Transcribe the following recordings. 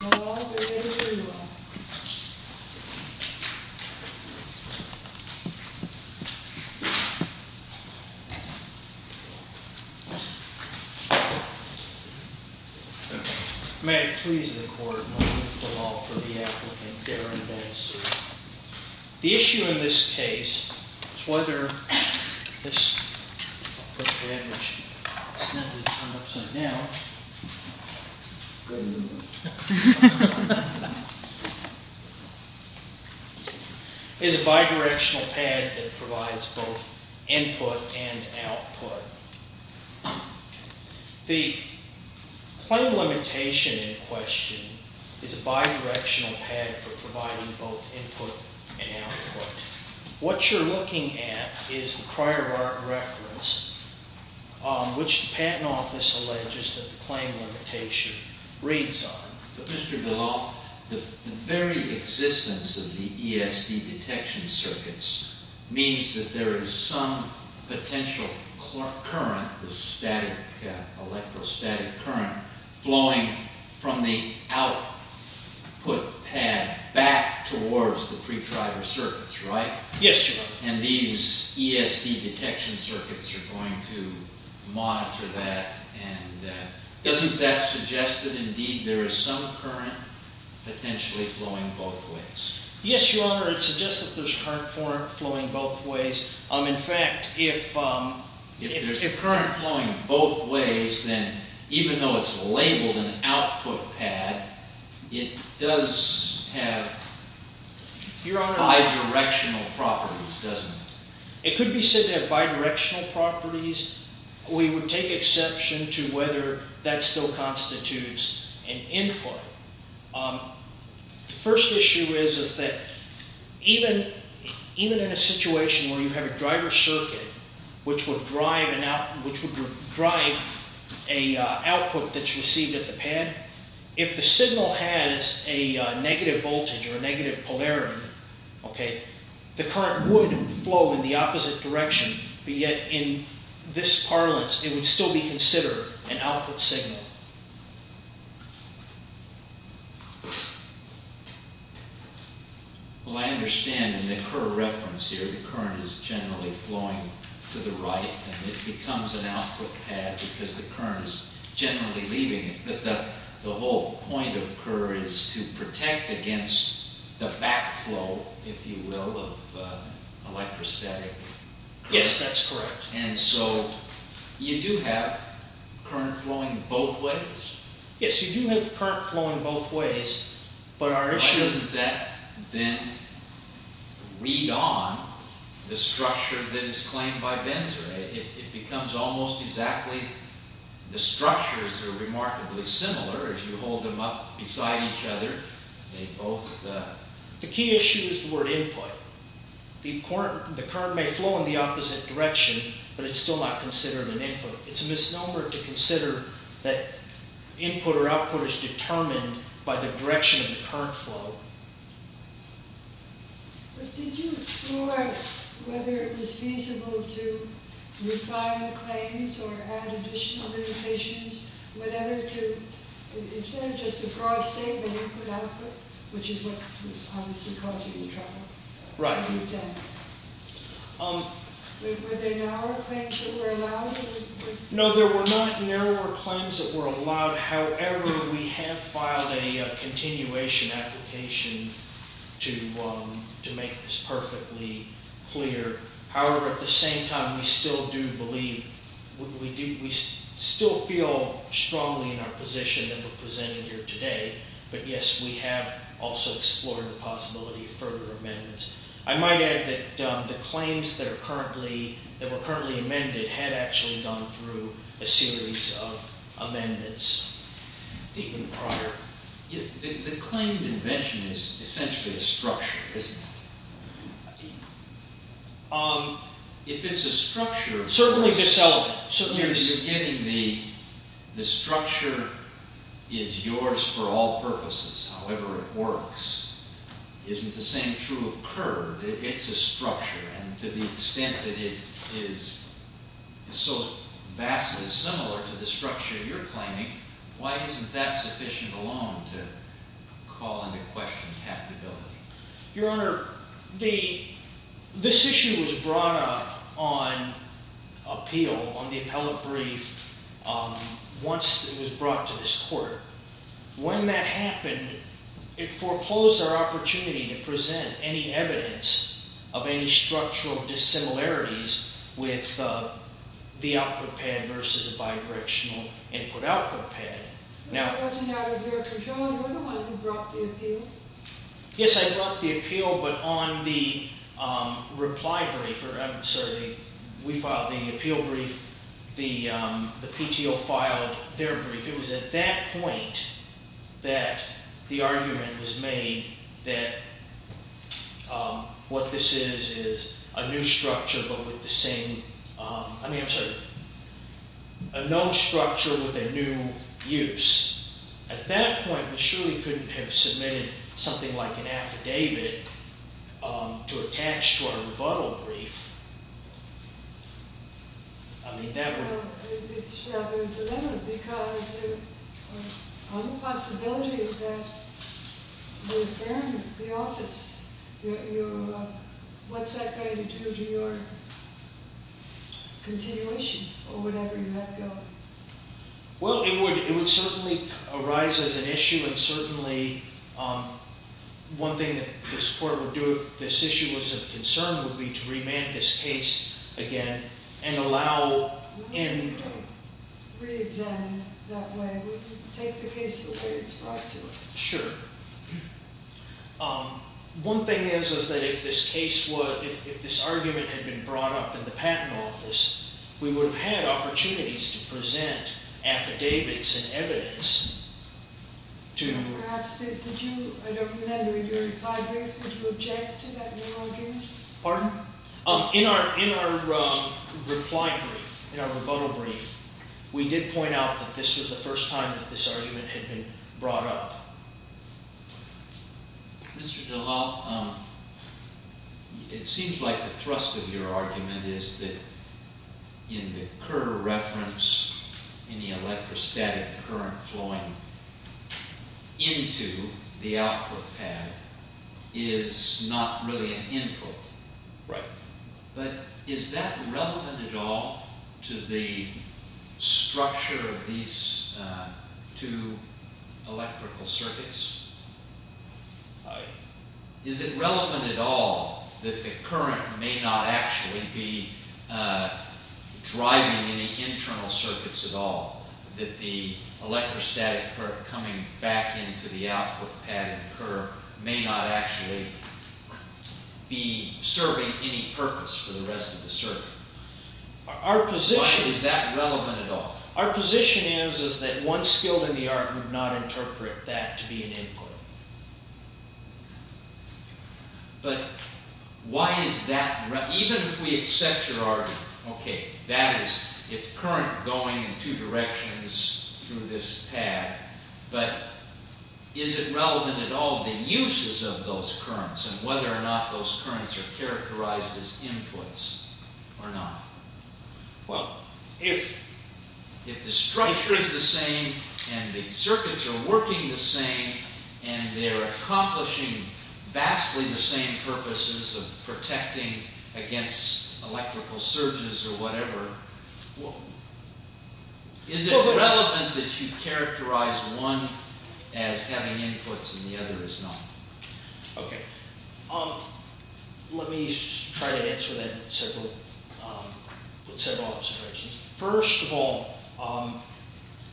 May it please the court, in the name of the law, for the applicant, Darren Benzer. The issue in this case is whether this is a bidirectional pad that provides both input and output. The claim limitation in question is a bidirectional pad for providing both input and output. What you're looking at is the prior art reference, which the patent office alleges that the claim limitation reads on. But Mr. DeLaw, the very existence of the ESD detection circuits means that there is some potential current, the static electrostatic current, flowing from the output pad back towards the pre-driver circuits, right? Yes, Your Honor. And these ESD detection circuits are going to monitor that. And doesn't that suggest that indeed there is some current potentially flowing both ways? Yes, Your Honor, it suggests that there's current flowing both ways. In fact, if there's current flowing both ways, then even though it's labeled an output pad, it does have bidirectional properties, doesn't it? It could be said to have bidirectional properties. We would take exception to whether that still constitutes an input. The first issue is that even in a situation where you have a driver circuit which would drive an output that's received at the pad, if the signal has a negative voltage or a negative polarity, the current would flow in the opposite direction. But yet in this parlance, it would still be considered an output signal. Well, I understand in the Kerr reference here, the current is generally flowing to the right, and it becomes an output pad because the current is generally leaving it. But the whole point of Kerr is to protect against the backflow, if you will, of electrostatic. Yes, that's correct. And so you do have current flowing both ways? Yes, you do have current flowing both ways, but our issue... Why doesn't that then read on the structure that is claimed by Benzer? It becomes almost exactly... the structures are remarkably similar. If you hold them up beside each other, they both... The key issue is the word input. The current may flow in the opposite direction, but it's still not considered an input. It's a misnomer to consider that input or output is determined by the direction of the current flow. But did you explore whether it was feasible to refine the claims or add additional limitations, is there just a broad statement input-output, which is what was obviously causing the trouble? Right. Were there narrower claims that were allowed? No, there were not narrower claims that were allowed. However, we have filed a continuation application to make this perfectly clear. However, at the same time, we still do believe... We still feel strongly in our position that we're presenting here today, but yes, we have also explored the possibility of further amendments. I might add that the claims that are currently... that were currently amended had actually gone through a series of amendments even prior. The claimed invention is essentially a structure, isn't it? If it's a structure... Certainly, this... You're getting the structure is yours for all purposes, however it works. Isn't the same true of curb? It's a structure, and to the extent that it is so vastly similar to the structure you're claiming, why isn't that sufficient alone to call into question capability? Your Honor, this issue was brought up on appeal, on the appellate brief, once it was brought to this court. When that happened, it foreclosed our opportunity to present any evidence of any structural dissimilarities with the output pad versus a bi-directional input-output pad. Now... It wasn't out of your control? You're the one who brought the appeal? Yes, I brought the appeal, but on the reply brief... I'm sorry, we filed the appeal brief. The PTO filed their brief. It was at that point that the argument was made that what this is is a new structure, but with the same... I mean, I'm sorry, a known structure with a new use. At that point, we surely couldn't have submitted something like an affidavit to attach to our rebuttal brief. I mean, that would... Well, it's rather dilemma, because there's a possibility that the affair with the office... What's that going to do to your continuation, or whatever you have going? Well, it would certainly arise as an issue, and certainly one thing that this court would do if this issue was of concern would be to remand this case again and allow... We wouldn't re-examine that way. We would take the case the way it's brought to us. Sure. One thing is that if this case was... If this argument had been brought up in the patent office, we would have had opportunities to present affidavits and evidence to... Perhaps. Did you... I don't remember. In your reply brief, did you object to that new argument? Pardon? In our reply brief, in our rebuttal brief, we did point out that this was the first time that this argument had been brought up. Mr. DeLapp, it seems like the thrust of your argument is that in the Kerr reference, any electrostatic current flowing into the output pad is not really an input. Right. But is that relevant at all to the structure of these two electrical circuits? Right. Is it relevant at all that the current may not actually be driving any internal circuits at all? That the electrostatic current coming back into the output pad in Kerr may not actually be serving any purpose for the rest of the circuit. Why is that relevant at all? Our position is that one skill in the art would not interpret that to be an input. But why is that relevant? Even if we accept your argument, okay, that is, it's current going in two directions through this pad, but is it relevant at all the uses of those currents and whether or not those currents are characterized as inputs or not? Well, if... If the structure is the same and the circuits are working the same and they're accomplishing vastly the same purposes of protecting against electrical surges or whatever, is it relevant that you characterize one as having inputs and the other as not? Okay. Let me try to answer that with several observations. First of all,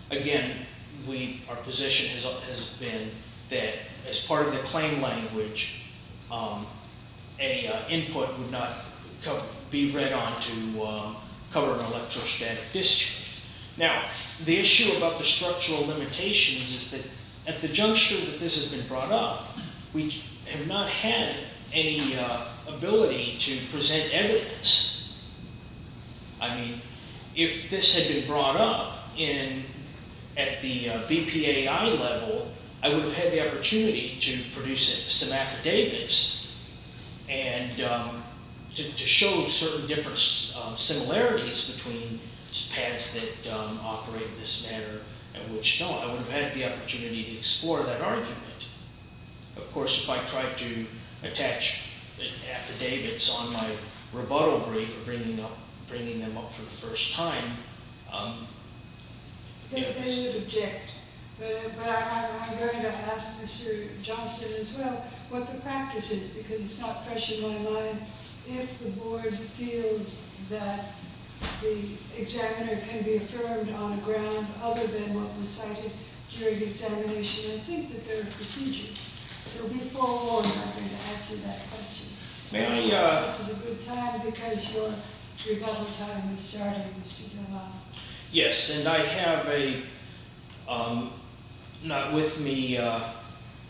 again, our position has been that as part of the claim language, an input would not be read on to cover an electrostatic discharge. Now, the issue about the structural limitations is that at the juncture that this has been brought up, we have not had any ability to present evidence. I mean, if this had been brought up at the BPAI level, I would have had the opportunity to produce some affidavits and to show certain different similarities between pads that operate in this manner at which, no, I would have had the opportunity to explore that argument. Of course, if I tried to attach affidavits on my rebuttal brief or bringing them up for the first time... They would object. But I'm going to ask Mr. Johnston as well what the practice is because it's not fresh in my mind. If the board feels that the examiner can be affirmed on a ground other than what was cited during the examination, I think that there are procedures. So we follow on, I think, to answer that question. Maybe this is a good time because your battle time is starting, Mr. Delano. Yes, and I have a, not with me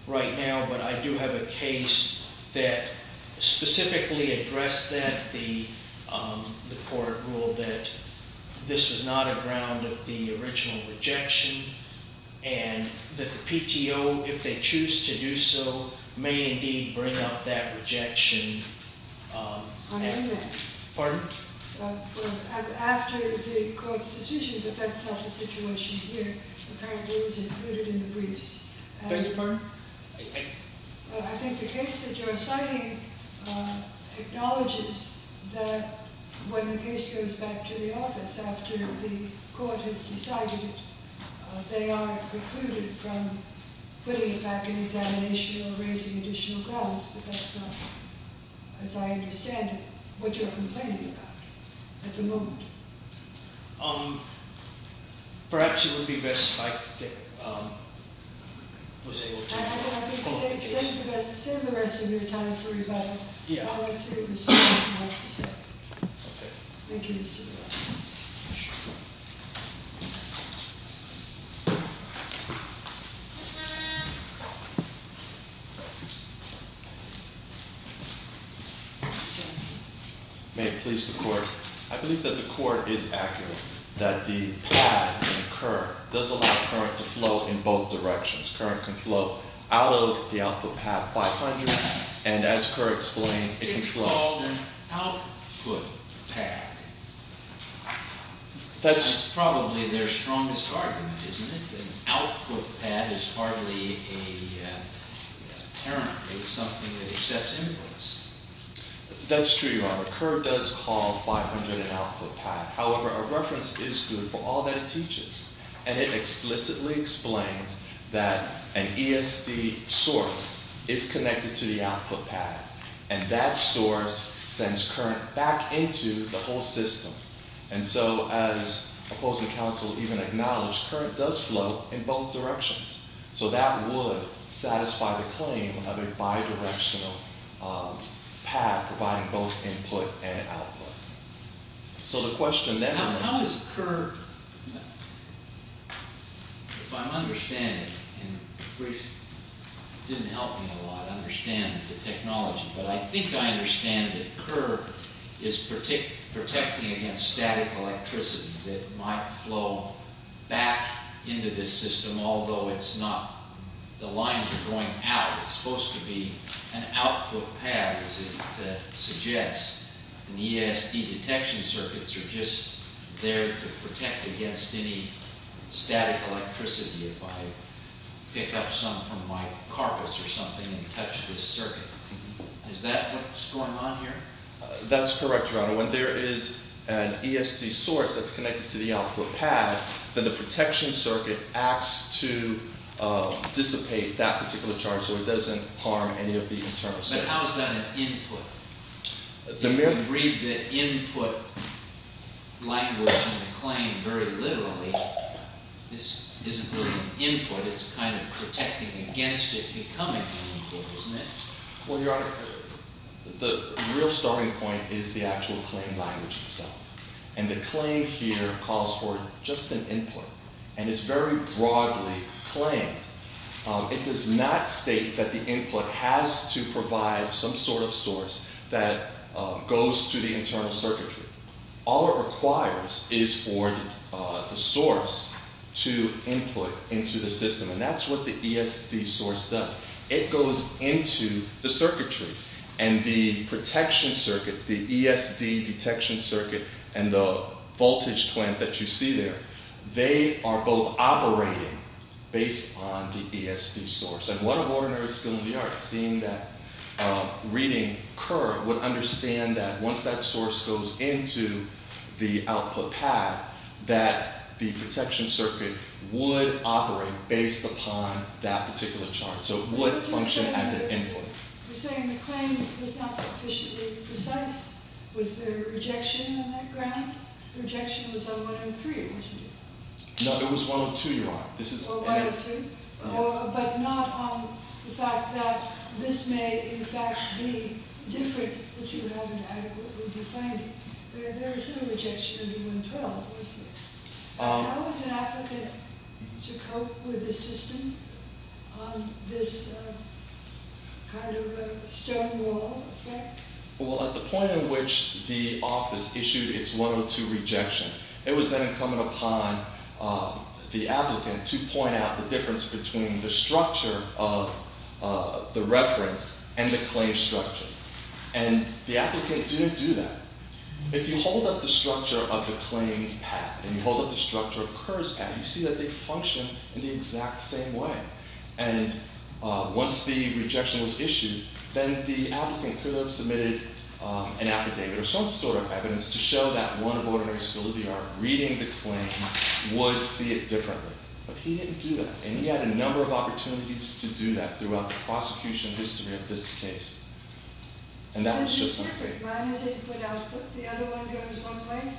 right now, but I do have a case that specifically addressed that. The court ruled that this was not a ground of the original rejection and that the PTO, if they choose to do so, may indeed bring up that rejection. Pardon? After the court's decision, but that's not the situation here, apparently it was included in the briefs. Beg your pardon? I think the case that you're citing acknowledges that when the case goes back to the office, after the court has decided it, they are precluded from putting it back in examination or raising additional grounds, but that's not, as I understand it, what you're complaining about at the moment. Perhaps it would be best if I was able to recall the case. Save the rest of your time for rebuttal. I would say it was nice to say. Thank you, Mr. Delano. Mr. Johnson? May it please the court. I believe that the court is accurate that the pad in Kerr does allow current to flow in both directions. Current can flow out of the output pad 500, and as Kerr explains, it can flow. It's called an output pad. That's probably their strongest argument, isn't it? An output pad is hardly a current. It's something that accepts influence. That's true, Your Honor. Kerr does call 500 an output pad. However, a reference is good for all that it teaches, and it explicitly explains that an ESD source is connected to the output pad, and that source sends current back into the whole system. And so, as opposing counsel even acknowledged, current does flow in both directions. So that would satisfy the claim of a bidirectional pad providing both input and output. So the question then remains... How does Kerr, if I'm understanding, and Bruce didn't help me a lot, understand the technology, but I think I understand that Kerr is protecting against static electricity that might flow back into this system, although it's not... The lines are going out. It's supposed to be an output pad, as it suggests. And ESD detection circuits are just there to protect against any static electricity if I pick up some from my carpets or something and touch this circuit. Is that what's going on here? That's correct, Your Honor. When there is an ESD source that's connected to the output pad, then the protection circuit acts to dissipate that particular charge so it doesn't harm any of the internal circuit. But how is that an input? If you read the input language in the claim very literally, this isn't really an input. It's kind of protecting against it becoming an input, isn't it? Well, Your Honor, the real starting point is the actual claim language itself. And the claim here calls for just an input. And it's very broadly claimed. It does not state that the input has to provide some sort of source that goes to the internal circuitry. All it requires is for the source to input into the system. And that's what the ESD source does. It goes into the circuitry. And the protection circuit, the ESD detection circuit, and the voltage clamp that you see there, they are both operating based on the ESD source. And one of ordinary skill in the arts, seeing that reading curve, would understand that once that source goes into the output pad, that the protection circuit would operate based upon that particular charge. So it would function as an input. You're saying the claim was not sufficiently precise? Was there rejection on that ground? Rejection was on 103, wasn't it? No, it was 102, Your Honor. But not on the fact that this may, in fact, be different, which you haven't adequately defined. There was no rejection of 112, was there? How was an applicant to cope with the system on this kind of stonewall effect? Well, at the point at which the office issued its 102 rejection, it was then incumbent upon the applicant to point out the difference between the structure of the reference and the claim structure. And the applicant didn't do that. If you hold up the structure of the claim pad, and you hold up the structure of KERS pad, you see that they function in the exact same way. And once the rejection was issued, then the applicant could have submitted an affidavit or some sort of evidence to show that one of ordinary school of the art reading the claim would see it differently. But he didn't do that. And he had a number of opportunities to do that throughout the prosecution history of this case. And that was just one claim. Since you said minus input output, the other one goes one way,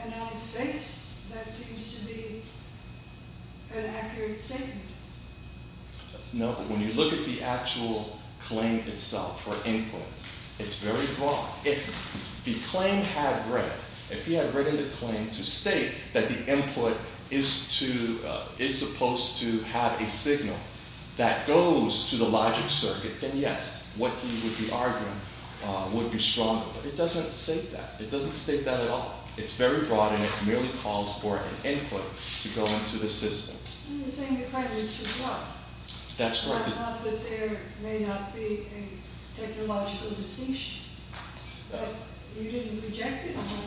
and now it's fixed, that seems to be an accurate statement. No, but when you look at the actual claim itself, or input, it's very broad. If the claim had written, if he had written the claim to state that the input is to, is supposed to have a signal that goes to the logic circuit, then yes, what he would be arguing would be stronger. But it doesn't state that. It doesn't state that at all. It's very broad, and it merely calls for an input to go into the system. You're saying the claim is too broad. That's right. I thought that there may not be a technological distinction. But you didn't reject it, apparently.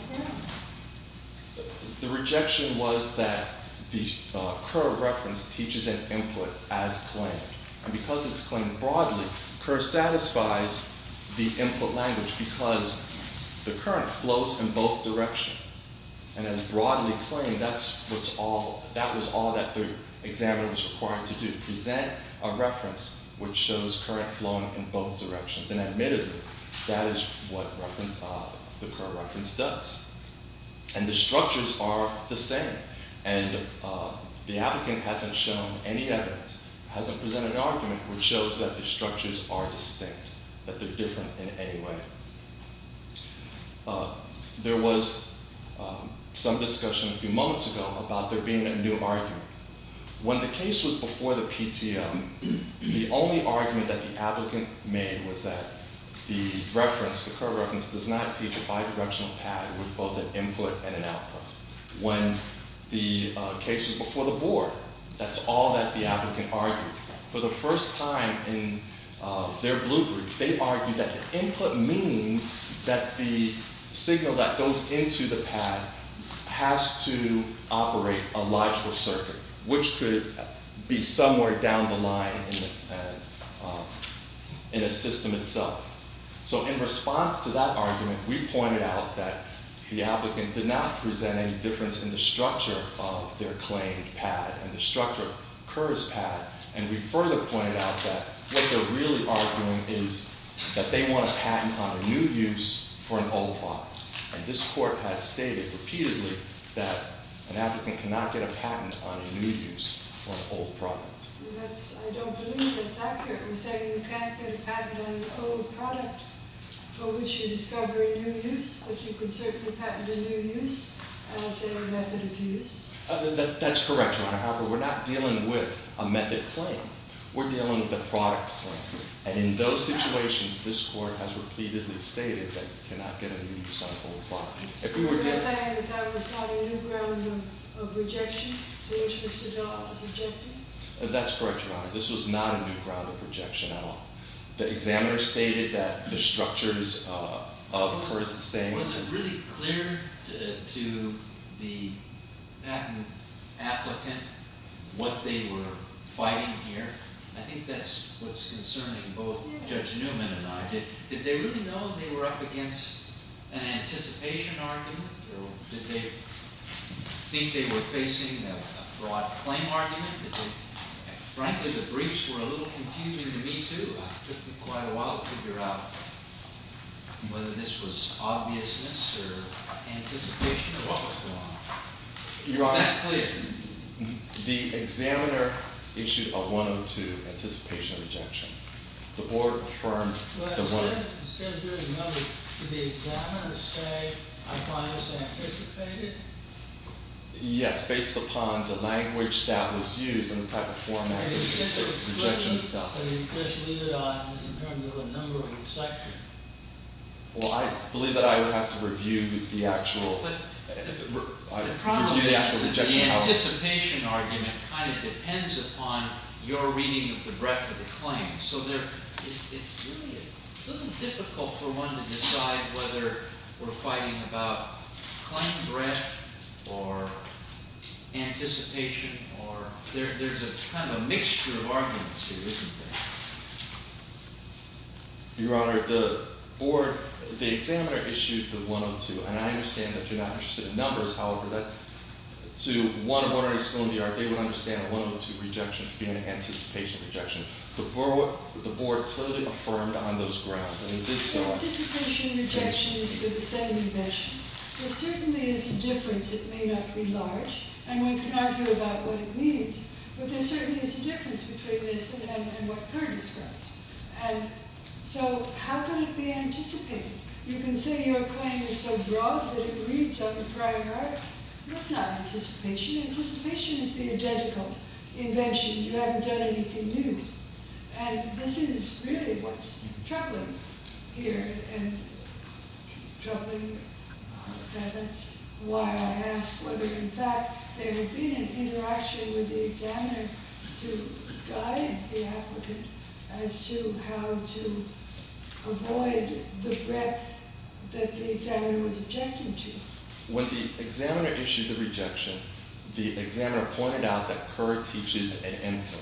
The rejection was that the Kerr reference teaches an input as claimed. And because it's claimed broadly, Kerr satisfies the input language because the current flows in both directions. And as broadly claimed, that's what's all, that was all that the examiner was required to do, to present a reference which shows current flowing in both directions. And admittedly, that is what the Kerr reference does. And the structures are the same. And the applicant hasn't shown any evidence, hasn't presented an argument, which shows that the structures are distinct, that they're different in any way. There was some discussion a few moments ago about there being a new argument. When the case was before the PTM, the only argument that the applicant made was that the reference, the Kerr reference, does not teach a bidirectional pad with both an input and an output. When the case was before the board, that's all that the applicant argued. For the first time in their blue brief, they argued that input means that the signal that goes into the pad has to operate a logical circuit, which could be somewhere down the line in a system itself. So in response to that argument, we pointed out that the applicant did not present any difference in the structure of their claimed pad and the structure of Kerr's pad. And we further pointed out that what they're really arguing is that they want to patent on a new use for an old one. And this court has stated repeatedly that an applicant cannot get a patent on a new use for an old product. That's correct, Your Honor. However, we're not dealing with a method claim. We're dealing with a product claim. And in those situations, this court has repeatedly stated that you cannot get a new use on an old product. That's correct, Your Honor. This was not a new ground of rejection at all. The examiner stated that the structures of Kerr's saying was really clear to the applicant what they were fighting here. I think that's what's concerning both Judge Newman and I. Did they really know they were up against an anticipation argument? Or did they think they were facing a broad claim argument? Frankly, the briefs were a little confusing to me, too. It took me quite a while to figure out whether this was obviousness or anticipation or what was going on. Was that clear? The examiner issued a 102, anticipation of rejection. The board affirmed the 102. Yes, based upon the language that was used and the type of format of rejection itself. I mean, just leave it on in terms of a number of instructions. Well, I believe that I would have to review the actual rejection. The problem is that the anticipation argument kind of depends upon your reading of the breadth of the claim. So it's really a little difficult for one to decide whether we're fighting about claim breadth or anticipation. There's kind of a mixture of arguments here, isn't there? Your Honor, the board, the examiner issued the 102. And I understand that you're not interested in numbers. However, to one of our respondents, they would understand a 102 rejection to be an anticipation rejection. The board clearly affirmed on those grounds. The anticipation rejection is for the second invention. There certainly is a difference. It may not be large. And we can argue about what it means. But there certainly is a difference between this and what Kerr describes. And so how can it be anticipated? You can say your claim is so broad that it reads like a prior art. That's not anticipation. Anticipation is the identical invention. You haven't done anything new. And this is really what's troubling here. And troubling that that's why I ask whether, in fact, there had been an interaction with the examiner to guide the applicant as to how to avoid the breadth that the examiner was objecting to. When the examiner issued the rejection, the examiner pointed out that Kerr teaches an input.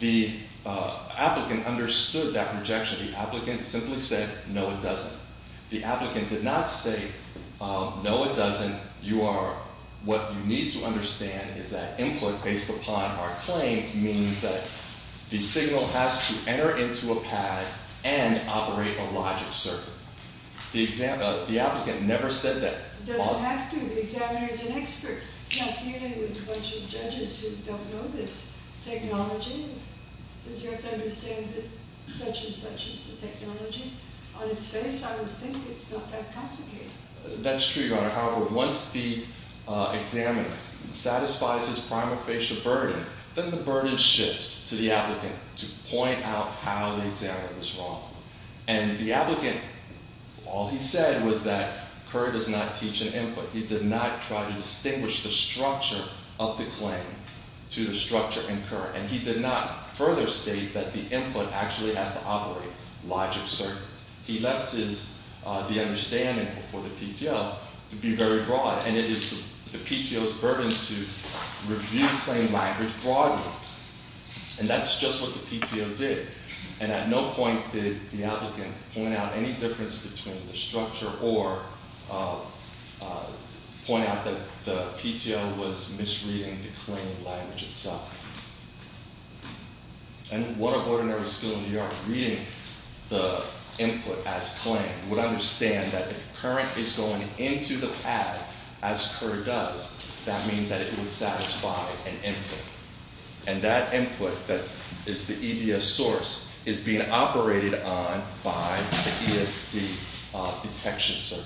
The applicant understood that rejection. The applicant simply said, no, it doesn't. The applicant did not say, no, it doesn't. What you need to understand is that input based upon our claim means that the signal has to enter into a pad and operate a logic circuit. The applicant never said that. It doesn't have to. The examiner is an expert. It's not dealing with a bunch of judges who don't know this technology. You have to understand that such and such is the technology. On its face, I would think it's not that complicated. That's true, Your Honor. However, once the examiner satisfies his prima facie burden, then the burden shifts to the applicant to point out how the examiner was wrong. And the applicant, all he said was that Kerr does not teach an input. He did not try to distinguish the structure of the claim to the structure in Kerr. And he did not further state that the input actually has to operate logic circuits. He left the understanding for the PTO to be very broad. And it is the PTO's burden to review claim language broadly. And that's just what the PTO did. And at no point did the applicant point out any difference between the structure or point out that the PTO was misreading the claim language itself. And what of ordinary school in New York reading the input as claimed? Would understand that the current is going into the pad as Kerr does. That means that it would satisfy an input. And that input that is the EDS source is being operated on by the ESD detection circuit.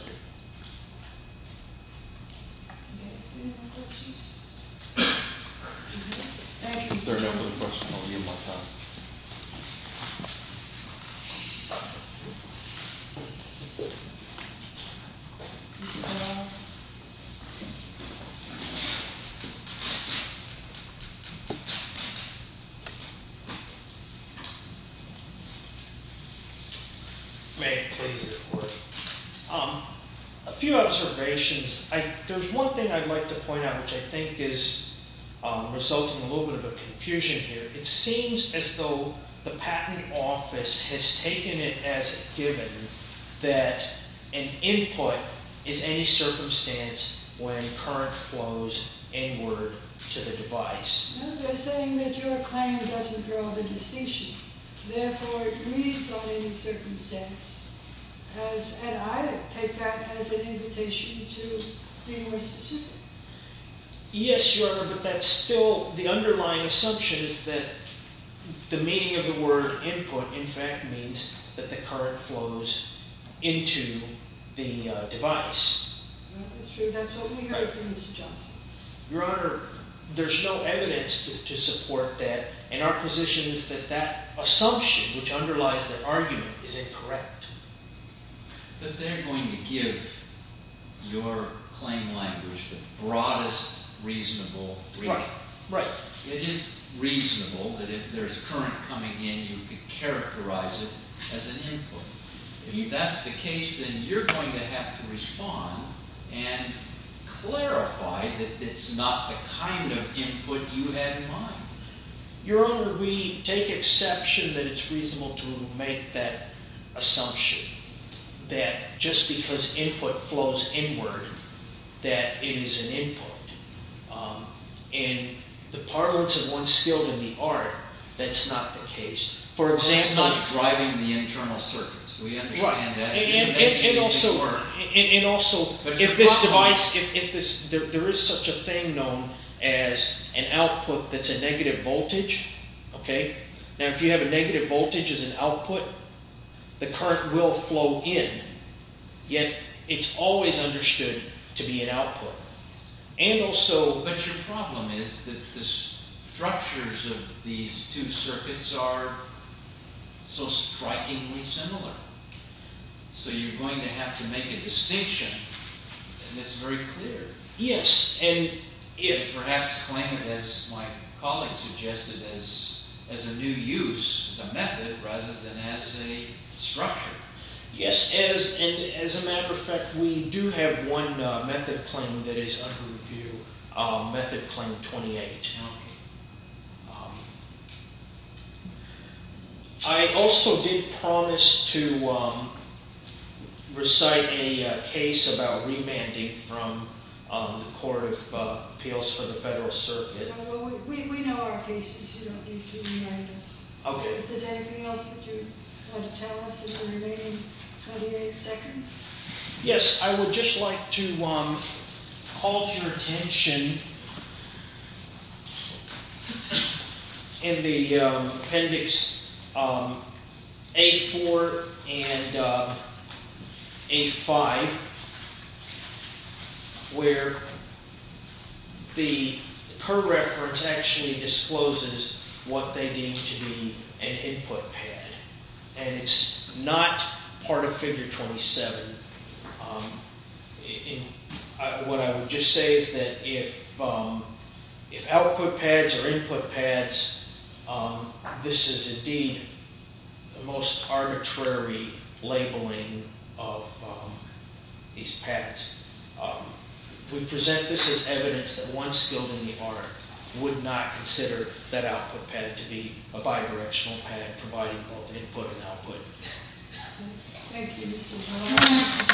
Is there another question? I'll give you more time. May I please? A few observations. There's one thing I'd like to point out which I think is resulting in a little bit of confusion here. It seems as though the patent office has taken it as a given that an input is any circumstance when current flows inward to the device. They're saying that your claim doesn't draw the distinction. Therefore, it reads on any circumstance. And I take that as an invitation to be more specific. Yes, Your Honor, but that's still the underlying assumption is that the meaning of the word input in fact means that the current flows into the device. That's true. That's what we heard from Mr. Johnson. Your Honor, there's no evidence to support that. And our position is that that assumption, which underlies the argument, is incorrect. But they're going to give your claim language the broadest reasonable reading. Right. It is reasonable that if there's current coming in, you could characterize it as an input. If that's the case, then you're going to have to respond and clarify that it's not the kind of input you had in mind. Your Honor, we take exception that it's reasonable to make that assumption that just because input flows inward, that it is an input. In the parlance of one's skill in the art, that's not the case. It's not driving the internal circuits. We understand that. And also, if this device, if there is such a thing known as an output that's a negative voltage, now if you have a negative voltage as an output, the current will flow in. Yet, it's always understood to be an output. But your problem is that the structures of these two circuits are so strikingly similar. So you're going to have to make a distinction, and it's very clear. Yes. And perhaps claim it, as my colleague suggested, as a new use, as a method, rather than as a structure. Yes, and as a matter of fact, we do have one method claim that is under review. Method claim 28. I also did promise to recite a case about remanding from the Court of Appeals for the Federal Circuit. We know our cases. You don't need to remind us. Okay. Anything else that you want to tell us in the remaining 28 seconds? Yes, I would just like to call to your attention in the appendix A4 and A5, where the current reference actually discloses what they deem to be an input pad. And it's not part of figure 27. What I would just say is that if output pads or input pads, this is indeed the most arbitrary labeling of these pads. We present this as evidence that one skilled in the art would not consider that output pad to be a bidirectional pad, Thank you, Mr. Powell.